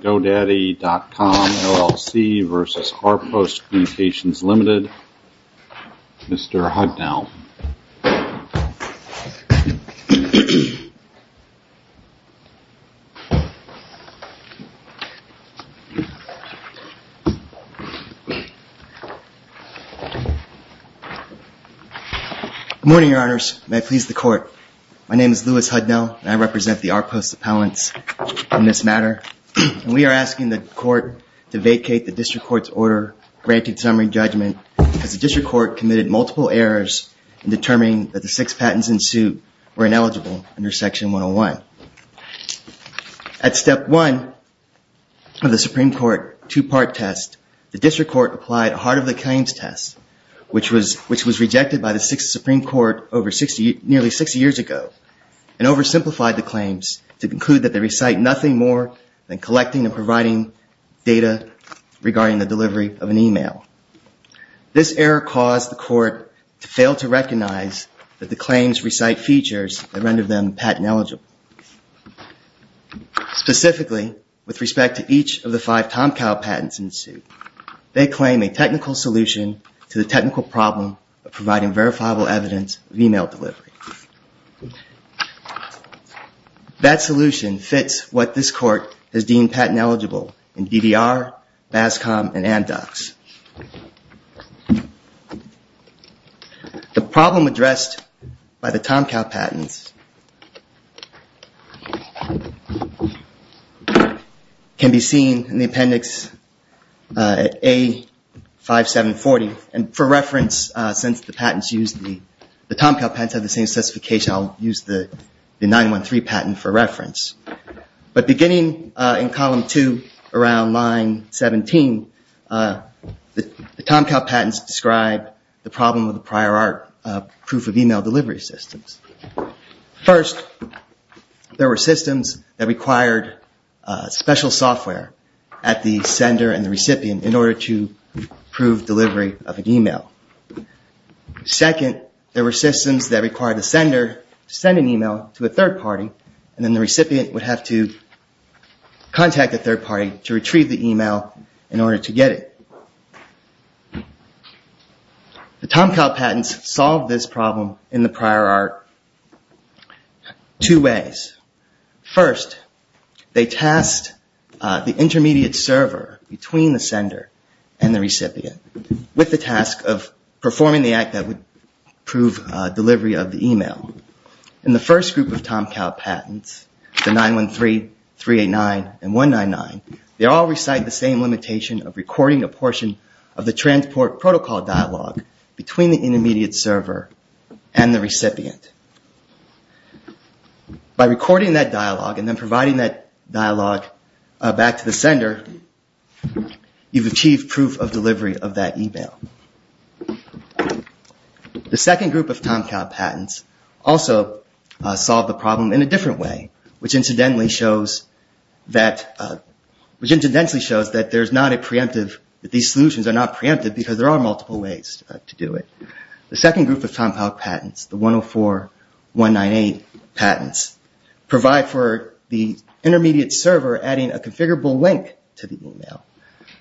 GoDaddy.com, LLC v. Rpost Communications Limited Mr. Hudnell. Good morning, your honors. May I please the court. My name is Lewis Hudnell. I represent the Rpost appellants in this matter. We are asking the court to vacate the district court's order granting summary judgment as the district court committed multiple errors in determining that the six patents in suit were ineligible under section 101. At step one of the Supreme Court two-part test, the district court applied a heart of the claims test, which was rejected by the Supreme Court nearly 60 years ago and oversimplified the claims to conclude that they recite nothing more than data regarding the delivery of an email. This error caused the court to fail to recognize that the claims recite features that render them patent eligible. Specifically, with respect to each of the five Tomcow patents in suit, they claim a technical solution to the technical problem of providing verifiable evidence of email delivery. That solution fits what this court has deemed patent eligible in DDR, BASCOM, and AMDOX. The problem addressed by the Tomcow patents can be seen in the appendix A5740, and for reference, since the Tomcow patents have the same specification, I'll use the 913 patent for reference. But beginning in column 2, around line 17, the Tomcow patents describe the problem of the prior art proof of email delivery systems. First, there were systems that required special software at the sender and recipient in order to prove delivery of an email. Second, there were systems that require the sender to send an email to a third party and then the recipient would have to contact a third party to retrieve the email in order to get it. The Tomcow patents solved this problem in the prior art two ways. First, they tasked the intermediate server between the sender and the recipient with the task of proof of delivery of the email. In the first group of Tomcow patents, the 913, 389, and 199, they all recite the same limitation of recording a portion of the transport protocol dialogue between the intermediate server and the recipient. By recording that dialogue and then providing that dialogue back to the recipient, the second group of Tomcow patents also solved the problem in a different way, which incidentally shows that these solutions are not preemptive because there are multiple ways to do it. The second group of Tomcow patents, the 104, 198 patents, provide for the intermediate server adding a configurable link to the email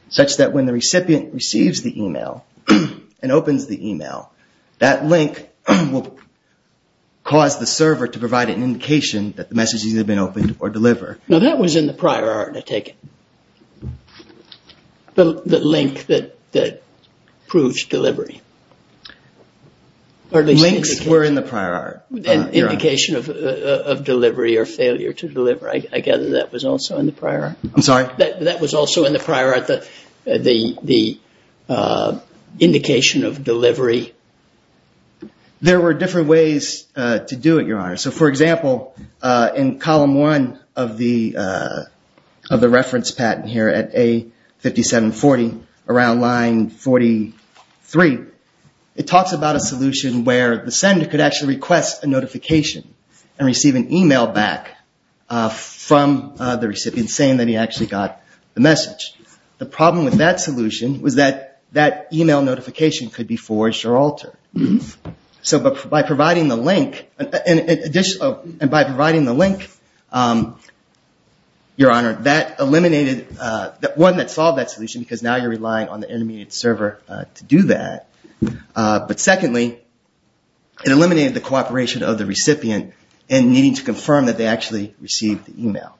such that when the recipient receives the email and opens the email, that link will cause the server to provide an indication that the messages have been opened or delivered. Now that was in the prior art, I take it. The link that proves delivery. Links were in the prior art. Indication of delivery or failure to deliver. I gather that was also in the prior art. I'm sorry? That was also in the prior art, the indication of delivery. There were different ways to do it, Your Honor. So for example, in column one of the reference patent here at A5740, around line 43, it talks about a solution where the sender could actually request a notification and receive an email back from the recipient saying that he actually got the message. The problem with that solution was that that email notification could be forged or altered. So by providing the link, Your Honor, that eliminated, one, that solved that solution because now you're relying on the intermediate server to do that. But secondly, it eliminated the cooperation of the recipient in needing to confirm that they actually received the email.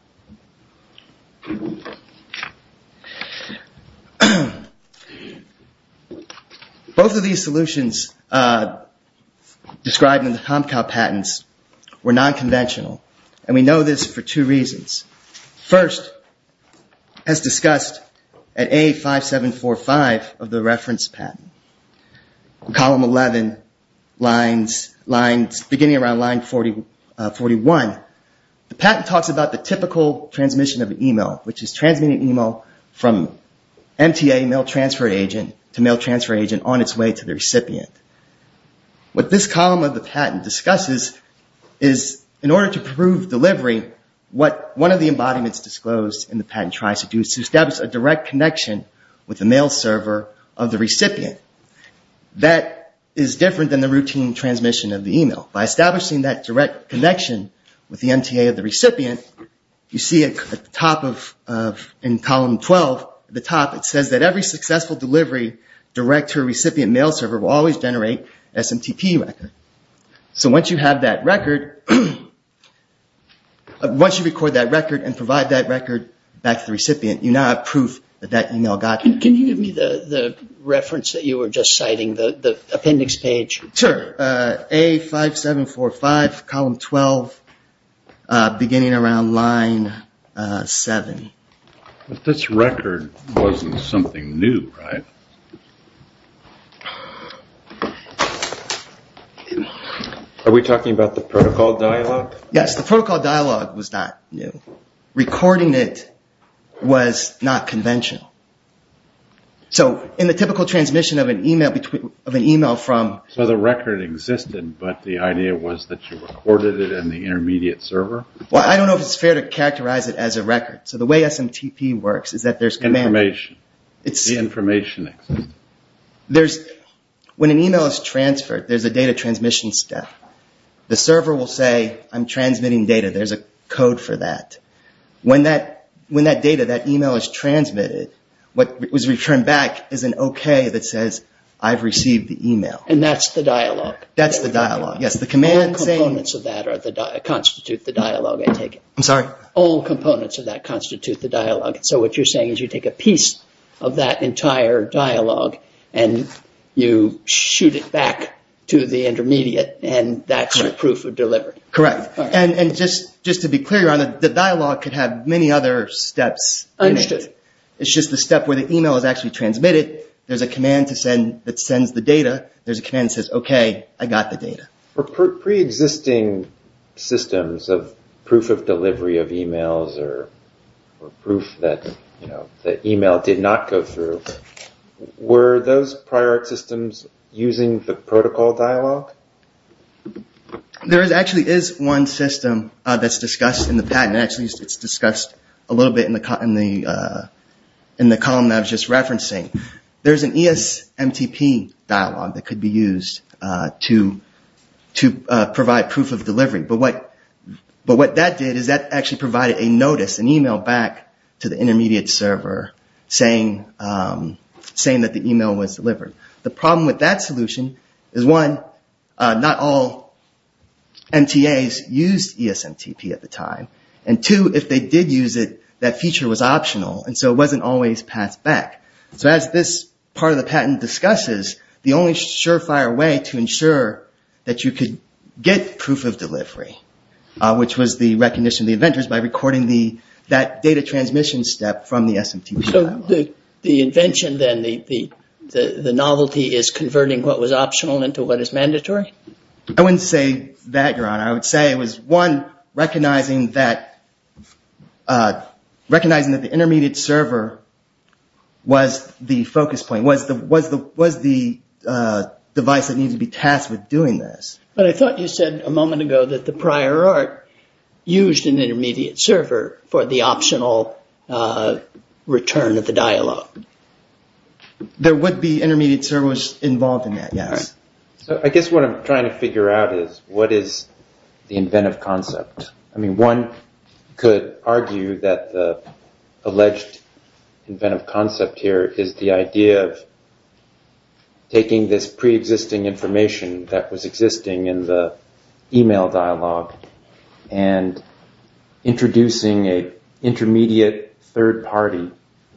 Both of these solutions described in the TomCow patents were non-conventional and we know this for two reasons. First, as discussed at A5745 of the reference patent, column 11 lines, beginning around line 41, the patent talks about the typical transmission of email, which is transmitting email from MTA, mail transfer agent, to mail transfer agent on its way to the recipient. What this column of the patent discusses is in order to prove delivery, what one of the embodiments disclosed in the patent tries to do is to establish a direct connection with the mail server of the recipient. That is different than the routine transmission of the email. By establishing that direct connection with the MTA of the recipient, you see at the top of column 12, at the top it says that every successful delivery direct to a recipient mail server will always generate SMTP record. So once you have that record, once you record that record and provide that record back to the recipient, you now have proof that that email got there. Can you give me the reference that you were just citing, the appendix page? Sure. A5745, column 12, beginning around line 7. But this record wasn't something new, right? Are we talking about the protocol dialogue? Yes, the protocol dialogue was not new. Recording it was not conventional. So in the typical transmission of an email from... So the record existed, but the idea was that you recorded it in the intermediate server? Well, I don't know if it's fair to characterize it as a record. So the way SMTP works is that there's... Information. The information exists. There's... When an email is transferred, there's a data transmission step. The server will say, I'm transmitting data, there's a code for that. When that data, that email is transmitted, what was returned back is an OK that says, I've received the email. And that's the dialogue? That's the dialogue. Yes, the command saying... All components of that constitute the dialogue, I take it? I'm sorry? All components of that constitute the dialogue. So what you're saying is you take a piece of that entire dialogue and you shoot it back to the intermediate and that's your proof of delivery? Correct. And just to be clear, the dialogue could have many other steps. Understood. It's just the step where the email is actually transmitted. There's a command that sends the data. There's a command that says, OK, I got the data. For pre-existing systems of proof of delivery of emails or proof that the email did not go through, were those prior art systems using the protocol dialogue? There actually is one system that's discussed in the patent. Actually, it's discussed a little bit in the column that I was just referencing. There's an ESMTP dialogue that could be used to provide proof of delivery. But what that did is that actually provided a notice, an email back to the intermediate server saying that the email was delivered. The problem with that solution is, one, not all MTAs used ESMTP at the time. And two, if they did use it, that feature was optional. And so it wasn't always passed back. So as this part of the patent discusses, the only sure-fire way to ensure that you could get proof of delivery, which was the recognition of the inventors by recording that data transmission step from the ESMTP dialogue. So the invention then, the novelty is converting what was optional into what is mandatory? I wouldn't say that, Your Honor. I would say it was, one, recognizing that the intermediate server was the focus point, was the device that needed to be tasked with doing this. But I thought you said a moment ago that the prior art used an intermediate server for the optional return of the dialogue. There would be intermediate servers involved in that, yes. So I guess what I'm trying to figure out is, what is the inventive concept? One could argue that the alleged inventive concept here is the idea of taking this pre-existing information that was existing in the email dialogue and introducing an intermediate third party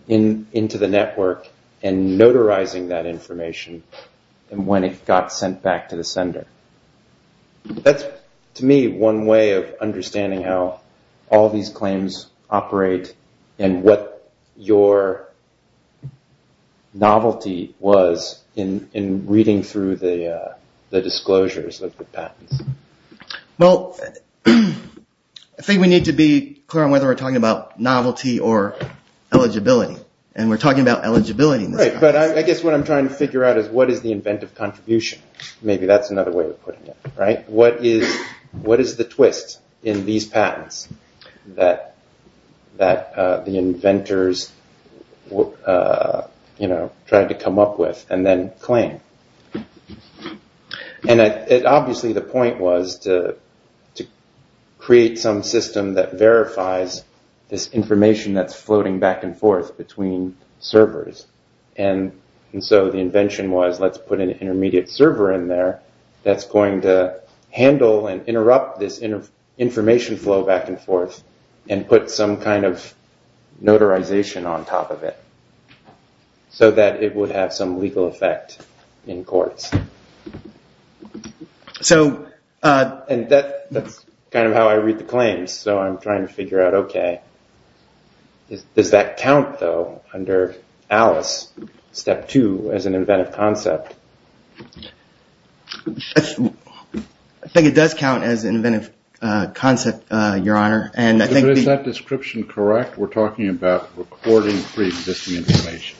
into the network and notarizing that information when it got sent back to the sender. That's, to me, one way of understanding how all these claims operate and what your novelty was in reading through the disclosures of the patents. Well, I think we need to be clear on whether we're talking about novelty or eligibility. And we're talking about eligibility. Right, but I guess what I'm trying to figure out is, what is the inventive contribution? Maybe that's another way of putting it. What is the twist in these patents that the inventors tried to come up with and then claim? And obviously the point was to create some system that verifies this information that's floating back and forth between servers. And so the invention was, let's put an intermediate server in there that's going to handle and interrupt this information flow back and forth and put some kind of notarization on top of it so that it would have some legal effect in courts. And that's kind of how I read the claims, so I'm trying to figure out, okay, does that count, though, under Alice, step two, as an inventive concept? I think it does count as an inventive concept, your honor. And I think Is that description correct? We're talking about recording pre-existing information.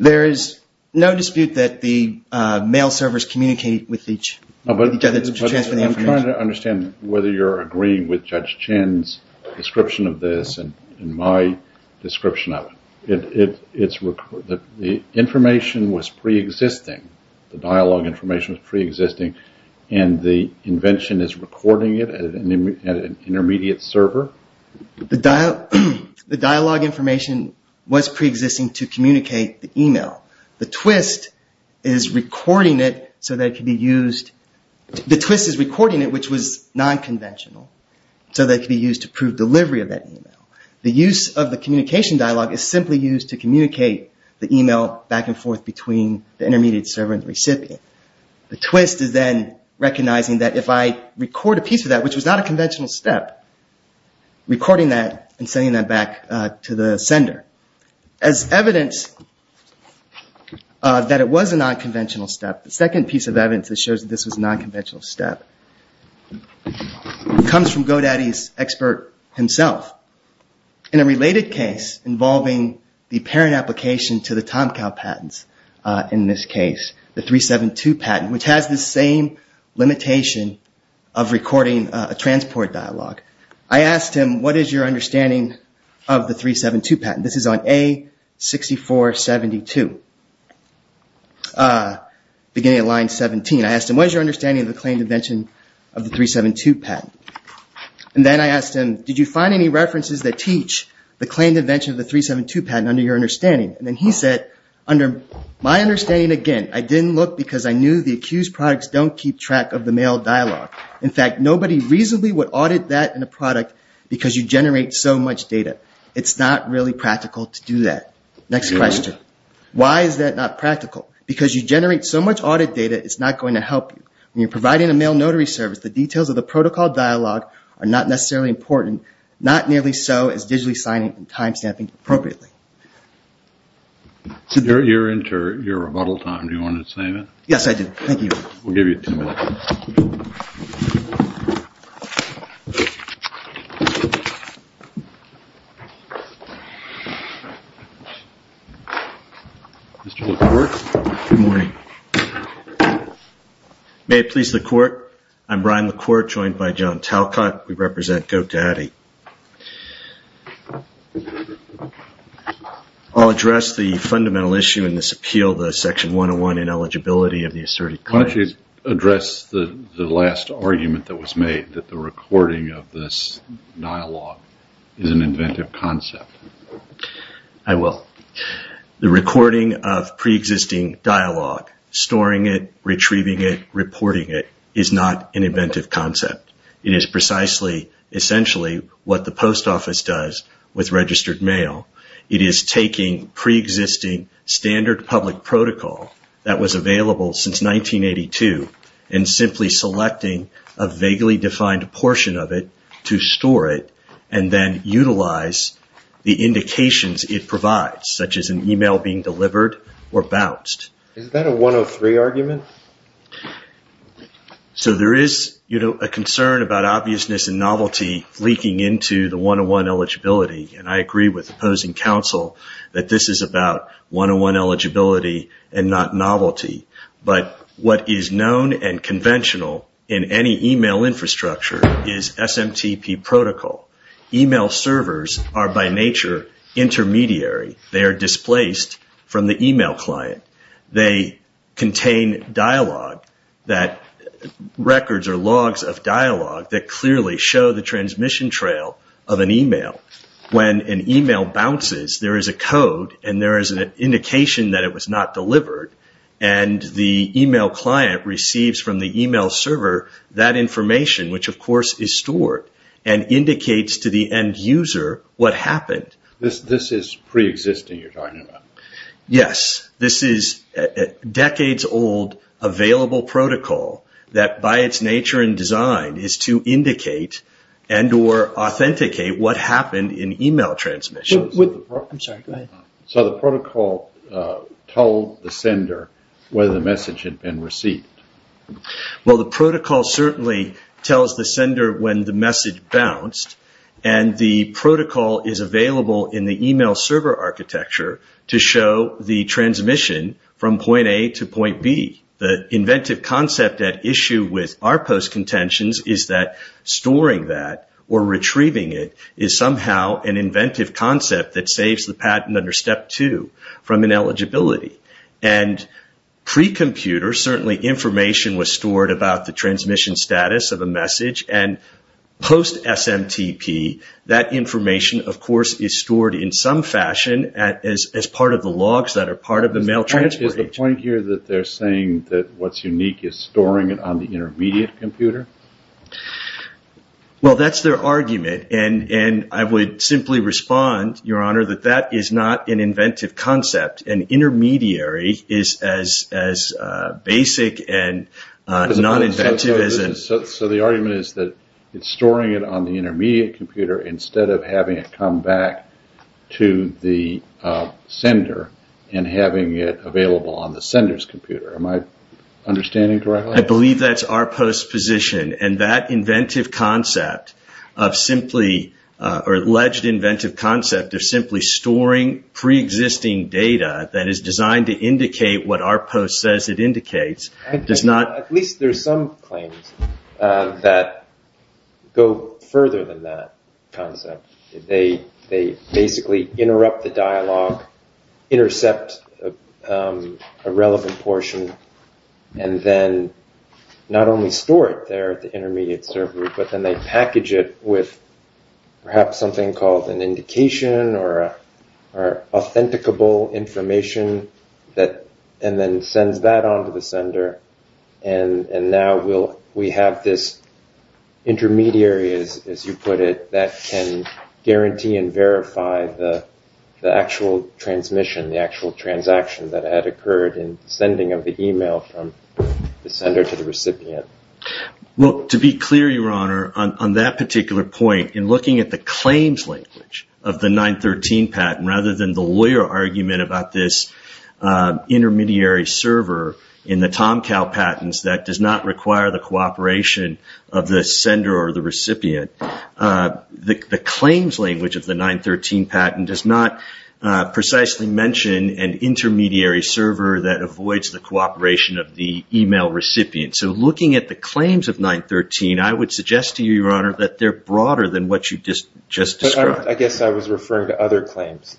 There is no dispute that the mail servers communicate with each other to I'm trying to understand whether you're agreeing with Judge Chin's description of this and my description of it. The information was pre-existing, the dialogue information was pre-existing, and the invention is recording it at an intermediate server? The dialogue information was pre-existing to communicate the email. The twist is recording it so that it can be used, the twist is recording it which was non-conventional so that it can be used to prove delivery of that email. The use of the communication dialogue is simply used to communicate the email back and forth between the intermediate server and the recipient. The twist is then recognizing that if I record a piece of that which was not a conventional step, recording that and sending that back to the sender. As evidence that it was a non-conventional step, the second piece of evidence that shows that this was a non-conventional step comes from GoDaddy's expert himself. In a related case involving the parent application to the TomCow patents, in this case the 372 patent, which has the same limitation of recording a transport dialogue, I asked him what is your understanding of the 372 patent? This is on A6472, beginning of line 17. I asked him what is your understanding of the claimed invention of the 372 patent? And then I asked him, did you find any references that teach the claimed invention of the 372 patent under your understanding? And then he said, under my understanding, again, I didn't look because I knew the accused products don't keep track of the mail dialogue. In fact, nobody reasonably would audit that in a product because you generate so much data. It's not really practical to do that. Next question. Why is that not practical? Because you generate so much audit data, it's not going to help you. When you're providing a mail notary service, the details of the protocol dialogue are not necessarily important, not nearly so as digitally signing and time stamping appropriately. So you're into your rebuttal time. Do you want to say that? Yes, I do. Thank you. We'll give you 10 minutes. Mr. LaCourte. Good morning. May it please LaCourte. I'm Brian LaCourte, joined by John Talcott. We represent GoDaddy. I'll address the fundamental issue in this appeal, the Section 101 ineligibility of the mail. Why don't you address the last argument that was made, that the recording of this dialogue is an inventive concept? I will. The recording of pre-existing dialogue, storing it, retrieving it, reporting it, is not an inventive concept. It is precisely, essentially, what the post office does with registered mail. It is taking pre-existing standard public protocol that was available since 1982 and simply selecting a vaguely defined portion of it to store it and then utilize the indications it provides, such as an email being delivered or bounced. Is that a 103 argument? So there is a concern about obviousness and novelty leaking into the 101 eligibility. I agree with opposing counsel that this is about 101 eligibility and not novelty. What is known and conventional in any email infrastructure is SMTP protocol. Email servers are, by nature, intermediary. They are displaced from the email client. They contain dialogue, records or logs of dialogue that clearly show the transmission trail of an email. When an email bounces, there is a code and there is an indication that it was not delivered and the email client receives from the email server that information, which of course is stored and indicates to the end user what happened. This is pre-existing you are talking about? Yes. This is decades old available protocol that, by its nature and design, is to indicate and authenticate what happened in email transmissions. So the protocol told the sender whether the message had been received? The protocol certainly tells the sender when the message bounced. The protocol is available in the email server architecture to show the transmission from point A to point B. The inventive concept at issue with our post contentions is that storing that or retrieving it is somehow an inventive concept that saves the patent under step two from ineligibility. Certainly information was stored about the transmission status of a message and post SMTP, that information, of course, is stored in some fashion as part of the logs that are part of the mail transportation. Is the point here that they are saying that what is unique is storing it on the intermediate computer? That is their argument. I would simply respond, Your Honor, that that is not an inventive concept. An intermediary is as basic and non-inventive as a... So the argument is that storing it on the intermediate computer instead of having it come back to the sender and having it available on the sender's computer. Am I understanding correctly? I believe that is our post's position and that inventive concept of simply, or alleged inventive concept of simply storing pre-existing data that is designed to indicate what our post says it indicates does not... They basically interrupt the dialogue, intercept a relevant portion, and then not only store it there at the intermediate server, but then they package it with perhaps something called an indication or authenticable information, and then sends that on to the sender. And now we have this intermediary, as you put it, that can guarantee and verify the actual transmission, the actual transaction that had occurred in the sending of the email from the sender to the recipient. To be clear, Your Honor, on that particular point, in looking at the claims language of the 913 patent rather than the lawyer argument about this intermediary server in the Tom Tao patents that does not require the cooperation of the sender or the recipient, the claims language of the 913 patent does not precisely mention an intermediary server that avoids the cooperation of the email recipient. So looking at the claims of 913, I would suggest to you, Your Honor, that they're broader than what you just described. I guess I was referring to other claims,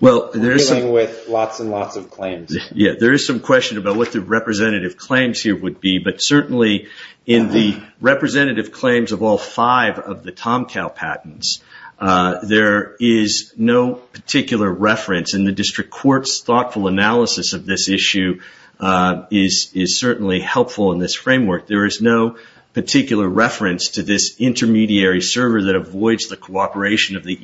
dealing with lots and lots of claims. Yeah, there is some question about what the representative claims here would be, but certainly in the representative claims of all five of the Tom Tao patents, there is no particular reference in the district court's thoughtful analysis of this issue is certainly helpful in this framework. There is no particular reference to this intermediary server that avoids the cooperation of the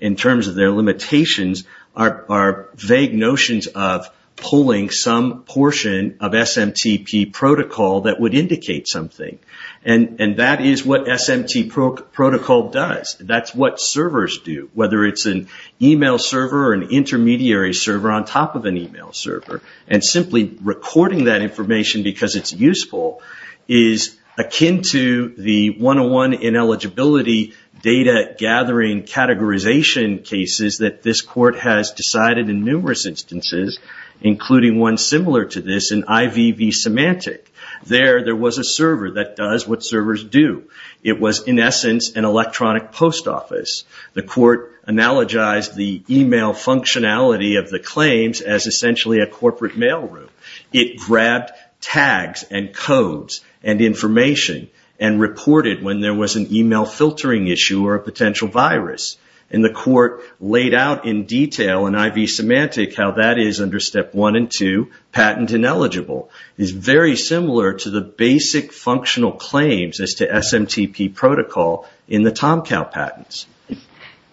in terms of their limitations are vague notions of pulling some portion of SMTP protocol that would indicate something, and that is what SMTP protocol does. That's what servers do, whether it's an email server or an intermediary server on top of an email server, and simply recording that information because it's useful is akin to the one-on-one ineligibility data gathering categorization cases that this court has decided in numerous instances, including one similar to this in IVV Symantec. There there was a server that does what servers do. It was in essence an electronic post office. The court analogized the email functionality of the claims as essentially a corporate mailroom. It grabbed tags and codes and information and reported when there was an email filtering issue or a potential virus, and the court laid out in detail in IVV Symantec how that is under step one and two, patent ineligible, is very similar to the basic functional claims as to SMTP protocol in the Tom Tao patents.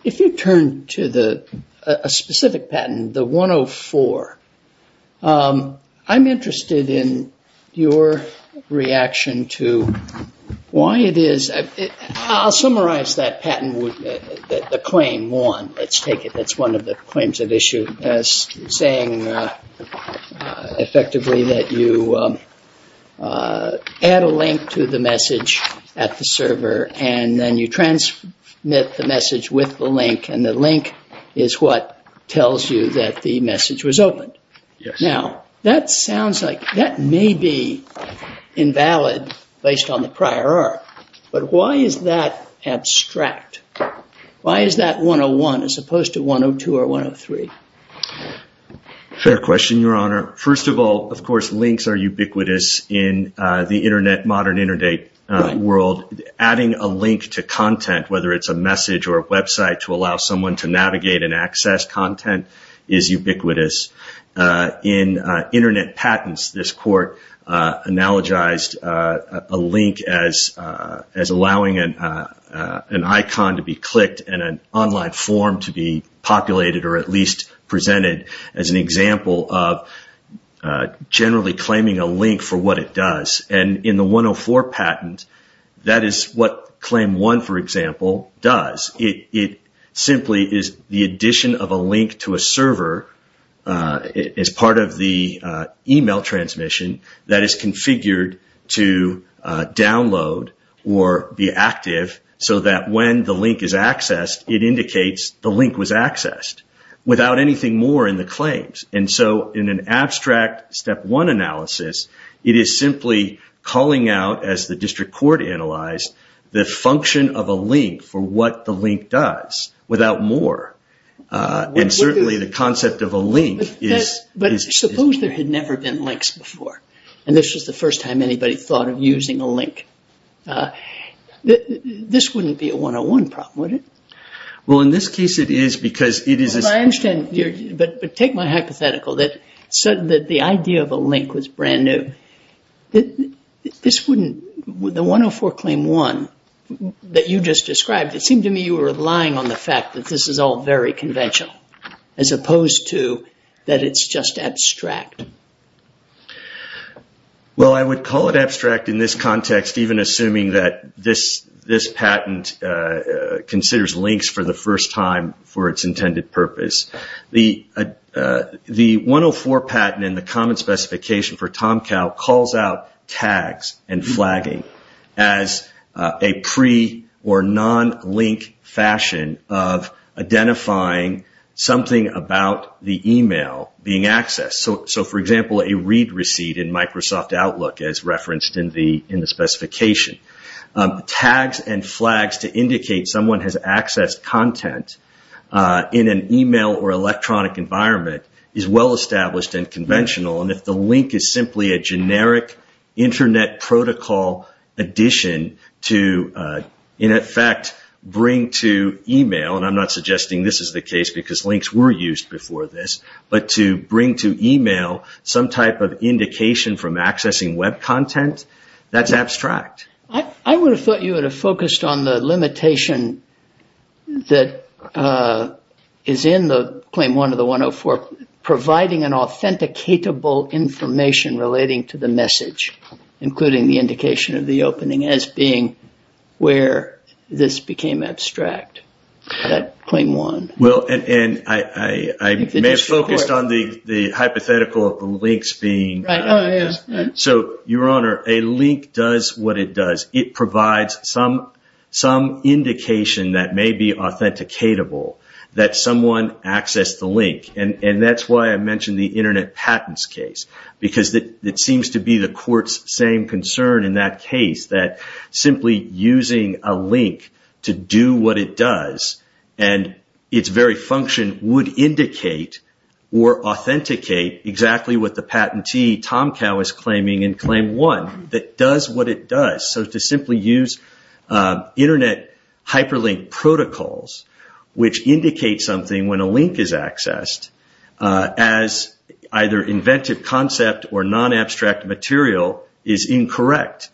If you turn to a specific patent, the 104, I'm interested in your reaction to why it is, I'll summarize that patent, the claim one, let's take it, that's one of the claims of issue as saying effectively that you add a link to the message at the server and then you transmit the message with the link and the link is what tells you that the message was opened. Now that sounds like, that may be invalid based on the prior art, but why is that abstract? Why is that 101 as opposed to 102 or 103? Fair question, Your Honor. First of all, of course, links are ubiquitous in the internet, modern internet world. Adding a link to content, whether it's a message or a website to allow someone to navigate and access content is ubiquitous. In internet patents, this court analogized a link as allowing an icon to be clicked and an online form to be populated or at least presented as an example of generally claiming a link for what it does. In the 104 patent, that is what claim one, for example, does. It simply is the addition of a link to a server as part of the email transmission that is configured to download or be active so that when the link is accessed, it indicates the link was accessed without anything more in the claims. In an abstract step one analysis, it is simply calling out, as the district court analyzed, the function of a link for what the link does without more. Certainly, the concept of a link is... Suppose there had never been links before and this was the first time anybody thought of using a link. This wouldn't be a 101 problem, would it? In this case, it is because it is... Take my hypothetical that the idea of a link was brand new. The 104 claim one that you just described, it seemed to me you were relying on the fact that this is all very conventional as opposed to that it is just abstract. I would call it abstract in this context even assuming that this patent considers links for the first time for its intended purpose. The 104 patent and the common specification for TomCow calls out tags and flagging as a pre or non-link fashion of identifying something about the email being accessed. For example, a read receipt in Microsoft Outlook as referenced in the specification. Tags and flags to indicate someone has accessed content in an email or electronic environment is well-established and conventional and if the link is simply a generic internet protocol addition to, in effect, bring to email, and I'm not suggesting this is the case because links were used before this, but to bring to email some type of indication from accessing web content, that's abstract. I would have thought you would have focused on the limitation that is in the claim one of the 104 providing an authenticatable information relating to the message including the indication of the opening as being where this became abstract, that claim one. I may have focused on the hypothetical of the links being... Your Honor, a link does what it does. It provides some indication that may be authenticatable that someone accessed the link and that's why I mentioned the internet patents case because it seems to be the court's same concern in that case that simply using a link to do what it does and its very function would indicate or authenticate exactly what the patentee, TomCow, is claiming in claim one that does what it does, so to simply use internet hyperlink protocols which indicate something when a link is accessed as either invented concept or non-abstract material is incorrect...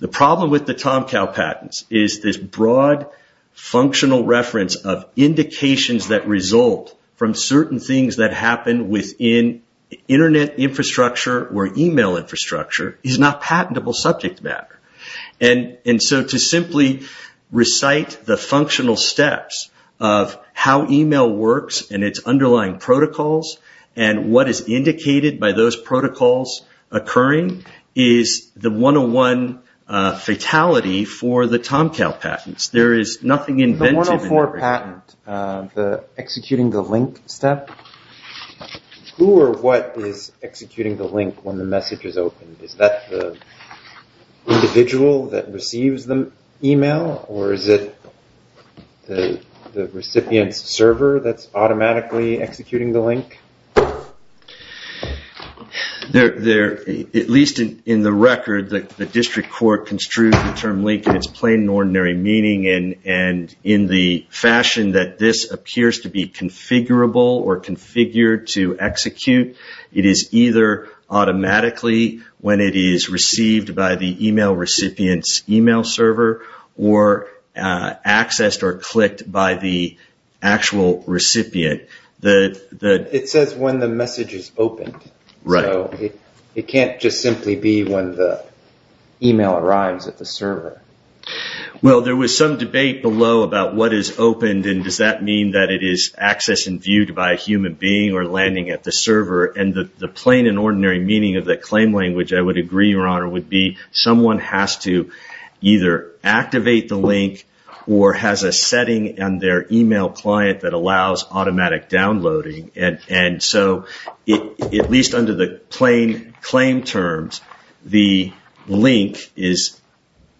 The problem with the TomCow patents is this broad functional reference of indications that result from certain things that happen within internet infrastructure or email infrastructure is not patentable subject matter. To simply recite the functional steps of how email works and its underlying protocols and what is indicated by those protocols occurring is the 101 fatality for the TomCow patents. There is nothing invented in every... The 104 patent, the executing the link step. Who or what is executing the link when the message is opened? Is that the individual that receives the email or is it the recipient's server that's automatically executing the link? At least in the record, the district court construed the term link in its plain and ordinary meaning and in the fashion that this appears to be configurable or configured to execute, it is either automatically when it is received by the email recipient's email server or accessed or clicked by the actual recipient. It says when the message is opened. It can't just simply be when the email arrives at the server. There was some debate below about what is opened and does that mean that it is accessed and viewed by a human being or landing at the server and the plain and ordinary meaning of that claim language, I would agree, Your Honor, would be someone has to either activate the link or has a setting on their email client that allows automatic downloading. At least under the plain claim terms, the link is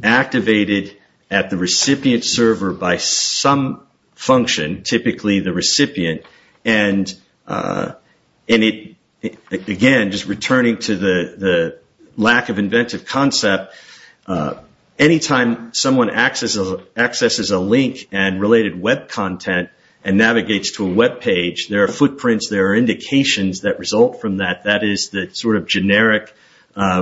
activated at the recipient's server by some function, typically the recipient. Again, just returning to the lack of inventive concept, anytime someone accesses the link and related web content and navigates to a webpage, there are footprints, there are indications that result from that. That is the sort of generic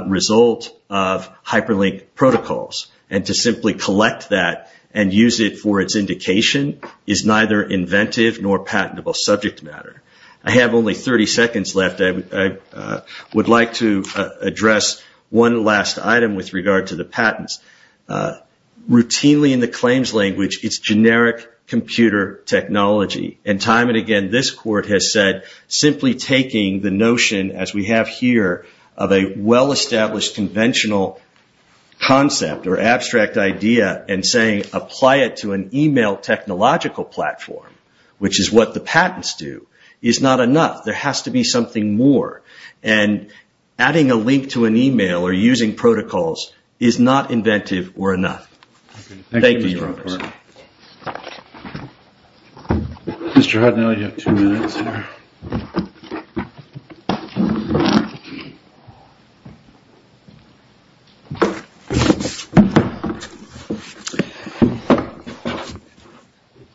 result of hyperlink protocols and to simply collect that and use it for its indication is neither inventive nor patentable subject matter. I have only 30 seconds left. I would like to address one last item with regard to the patents. Mainly in the claims language, it is generic computer technology. Time and again, this Court has said simply taking the notion as we have here of a well-established conventional concept or abstract idea and saying apply it to an email technological platform, which is what the patents do, is not enough. There has to be something more and adding a link to an email or using protocols is not inventive or enough. Thank you, Your Honors.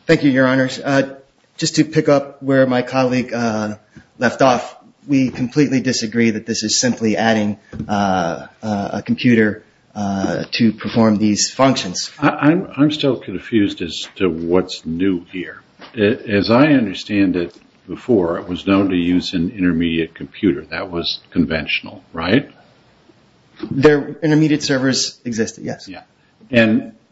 Thank you, Your Honors. Just to pick up where my colleague left off, we completely disagree that this is simply adding a computer to perform these functions. I am still confused as to what is new here. As I understand it before, it was known to use an intermediate computer. That was conventional, right? Their intermediate servers existed, yes.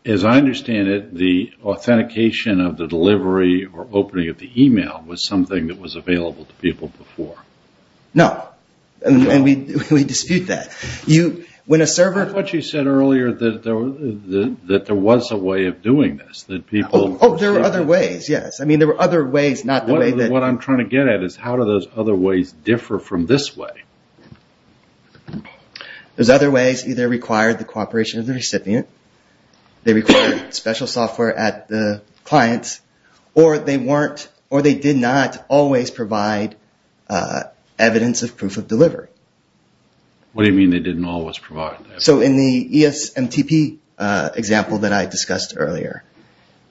As I understand it, the authentication of the delivery or opening of the email was something that was available to people before. No. We dispute that. What you said earlier that there was a way of doing this. Oh, there were other ways, yes. There were other ways. What I am trying to get at is how do those other ways differ from this way? Those other ways either required the cooperation of the recipient, they required special software at the client, or they did not always provide evidence of proof of delivery. What do you mean they did not always provide that? In the ESMTP example that I discussed earlier,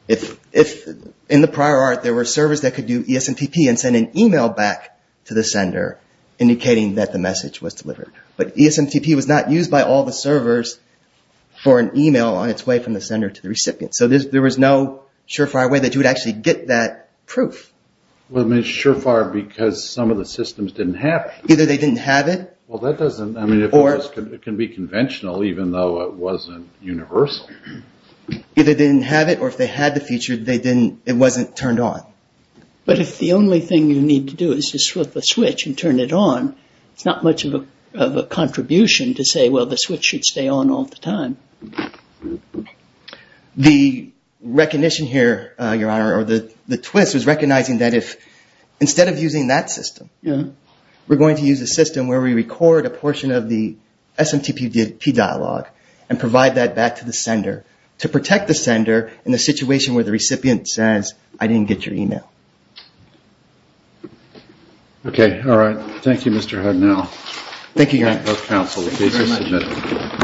in the prior art, there were servers that could do ESMTP and send an email back to the sender indicating that the message was delivered. But ESMTP was not used by all the servers for an email on its way from the sender to the recipient. So there was no surefire way that you would actually get that proof. Well, it is surefire because some of the systems did not have it. Either they did not have it. Well, that does not, I mean, it can be conventional even though it was not universal. Either they did not have it or if they had the feature, it was not turned on. But if the only thing you need to do is just flip a switch and turn it on, it is not much of a contribution to say, well, the switch should stay on all the time. The recognition here, Your Honor, or the twist is recognizing that instead of using that system, we are going to use a system where we record a portion of the ESMTP dialogue and provide that back to the sender to protect the sender in the situation where the recipient says, I did not get your email. Okay. All right. Thank you, Your Honor.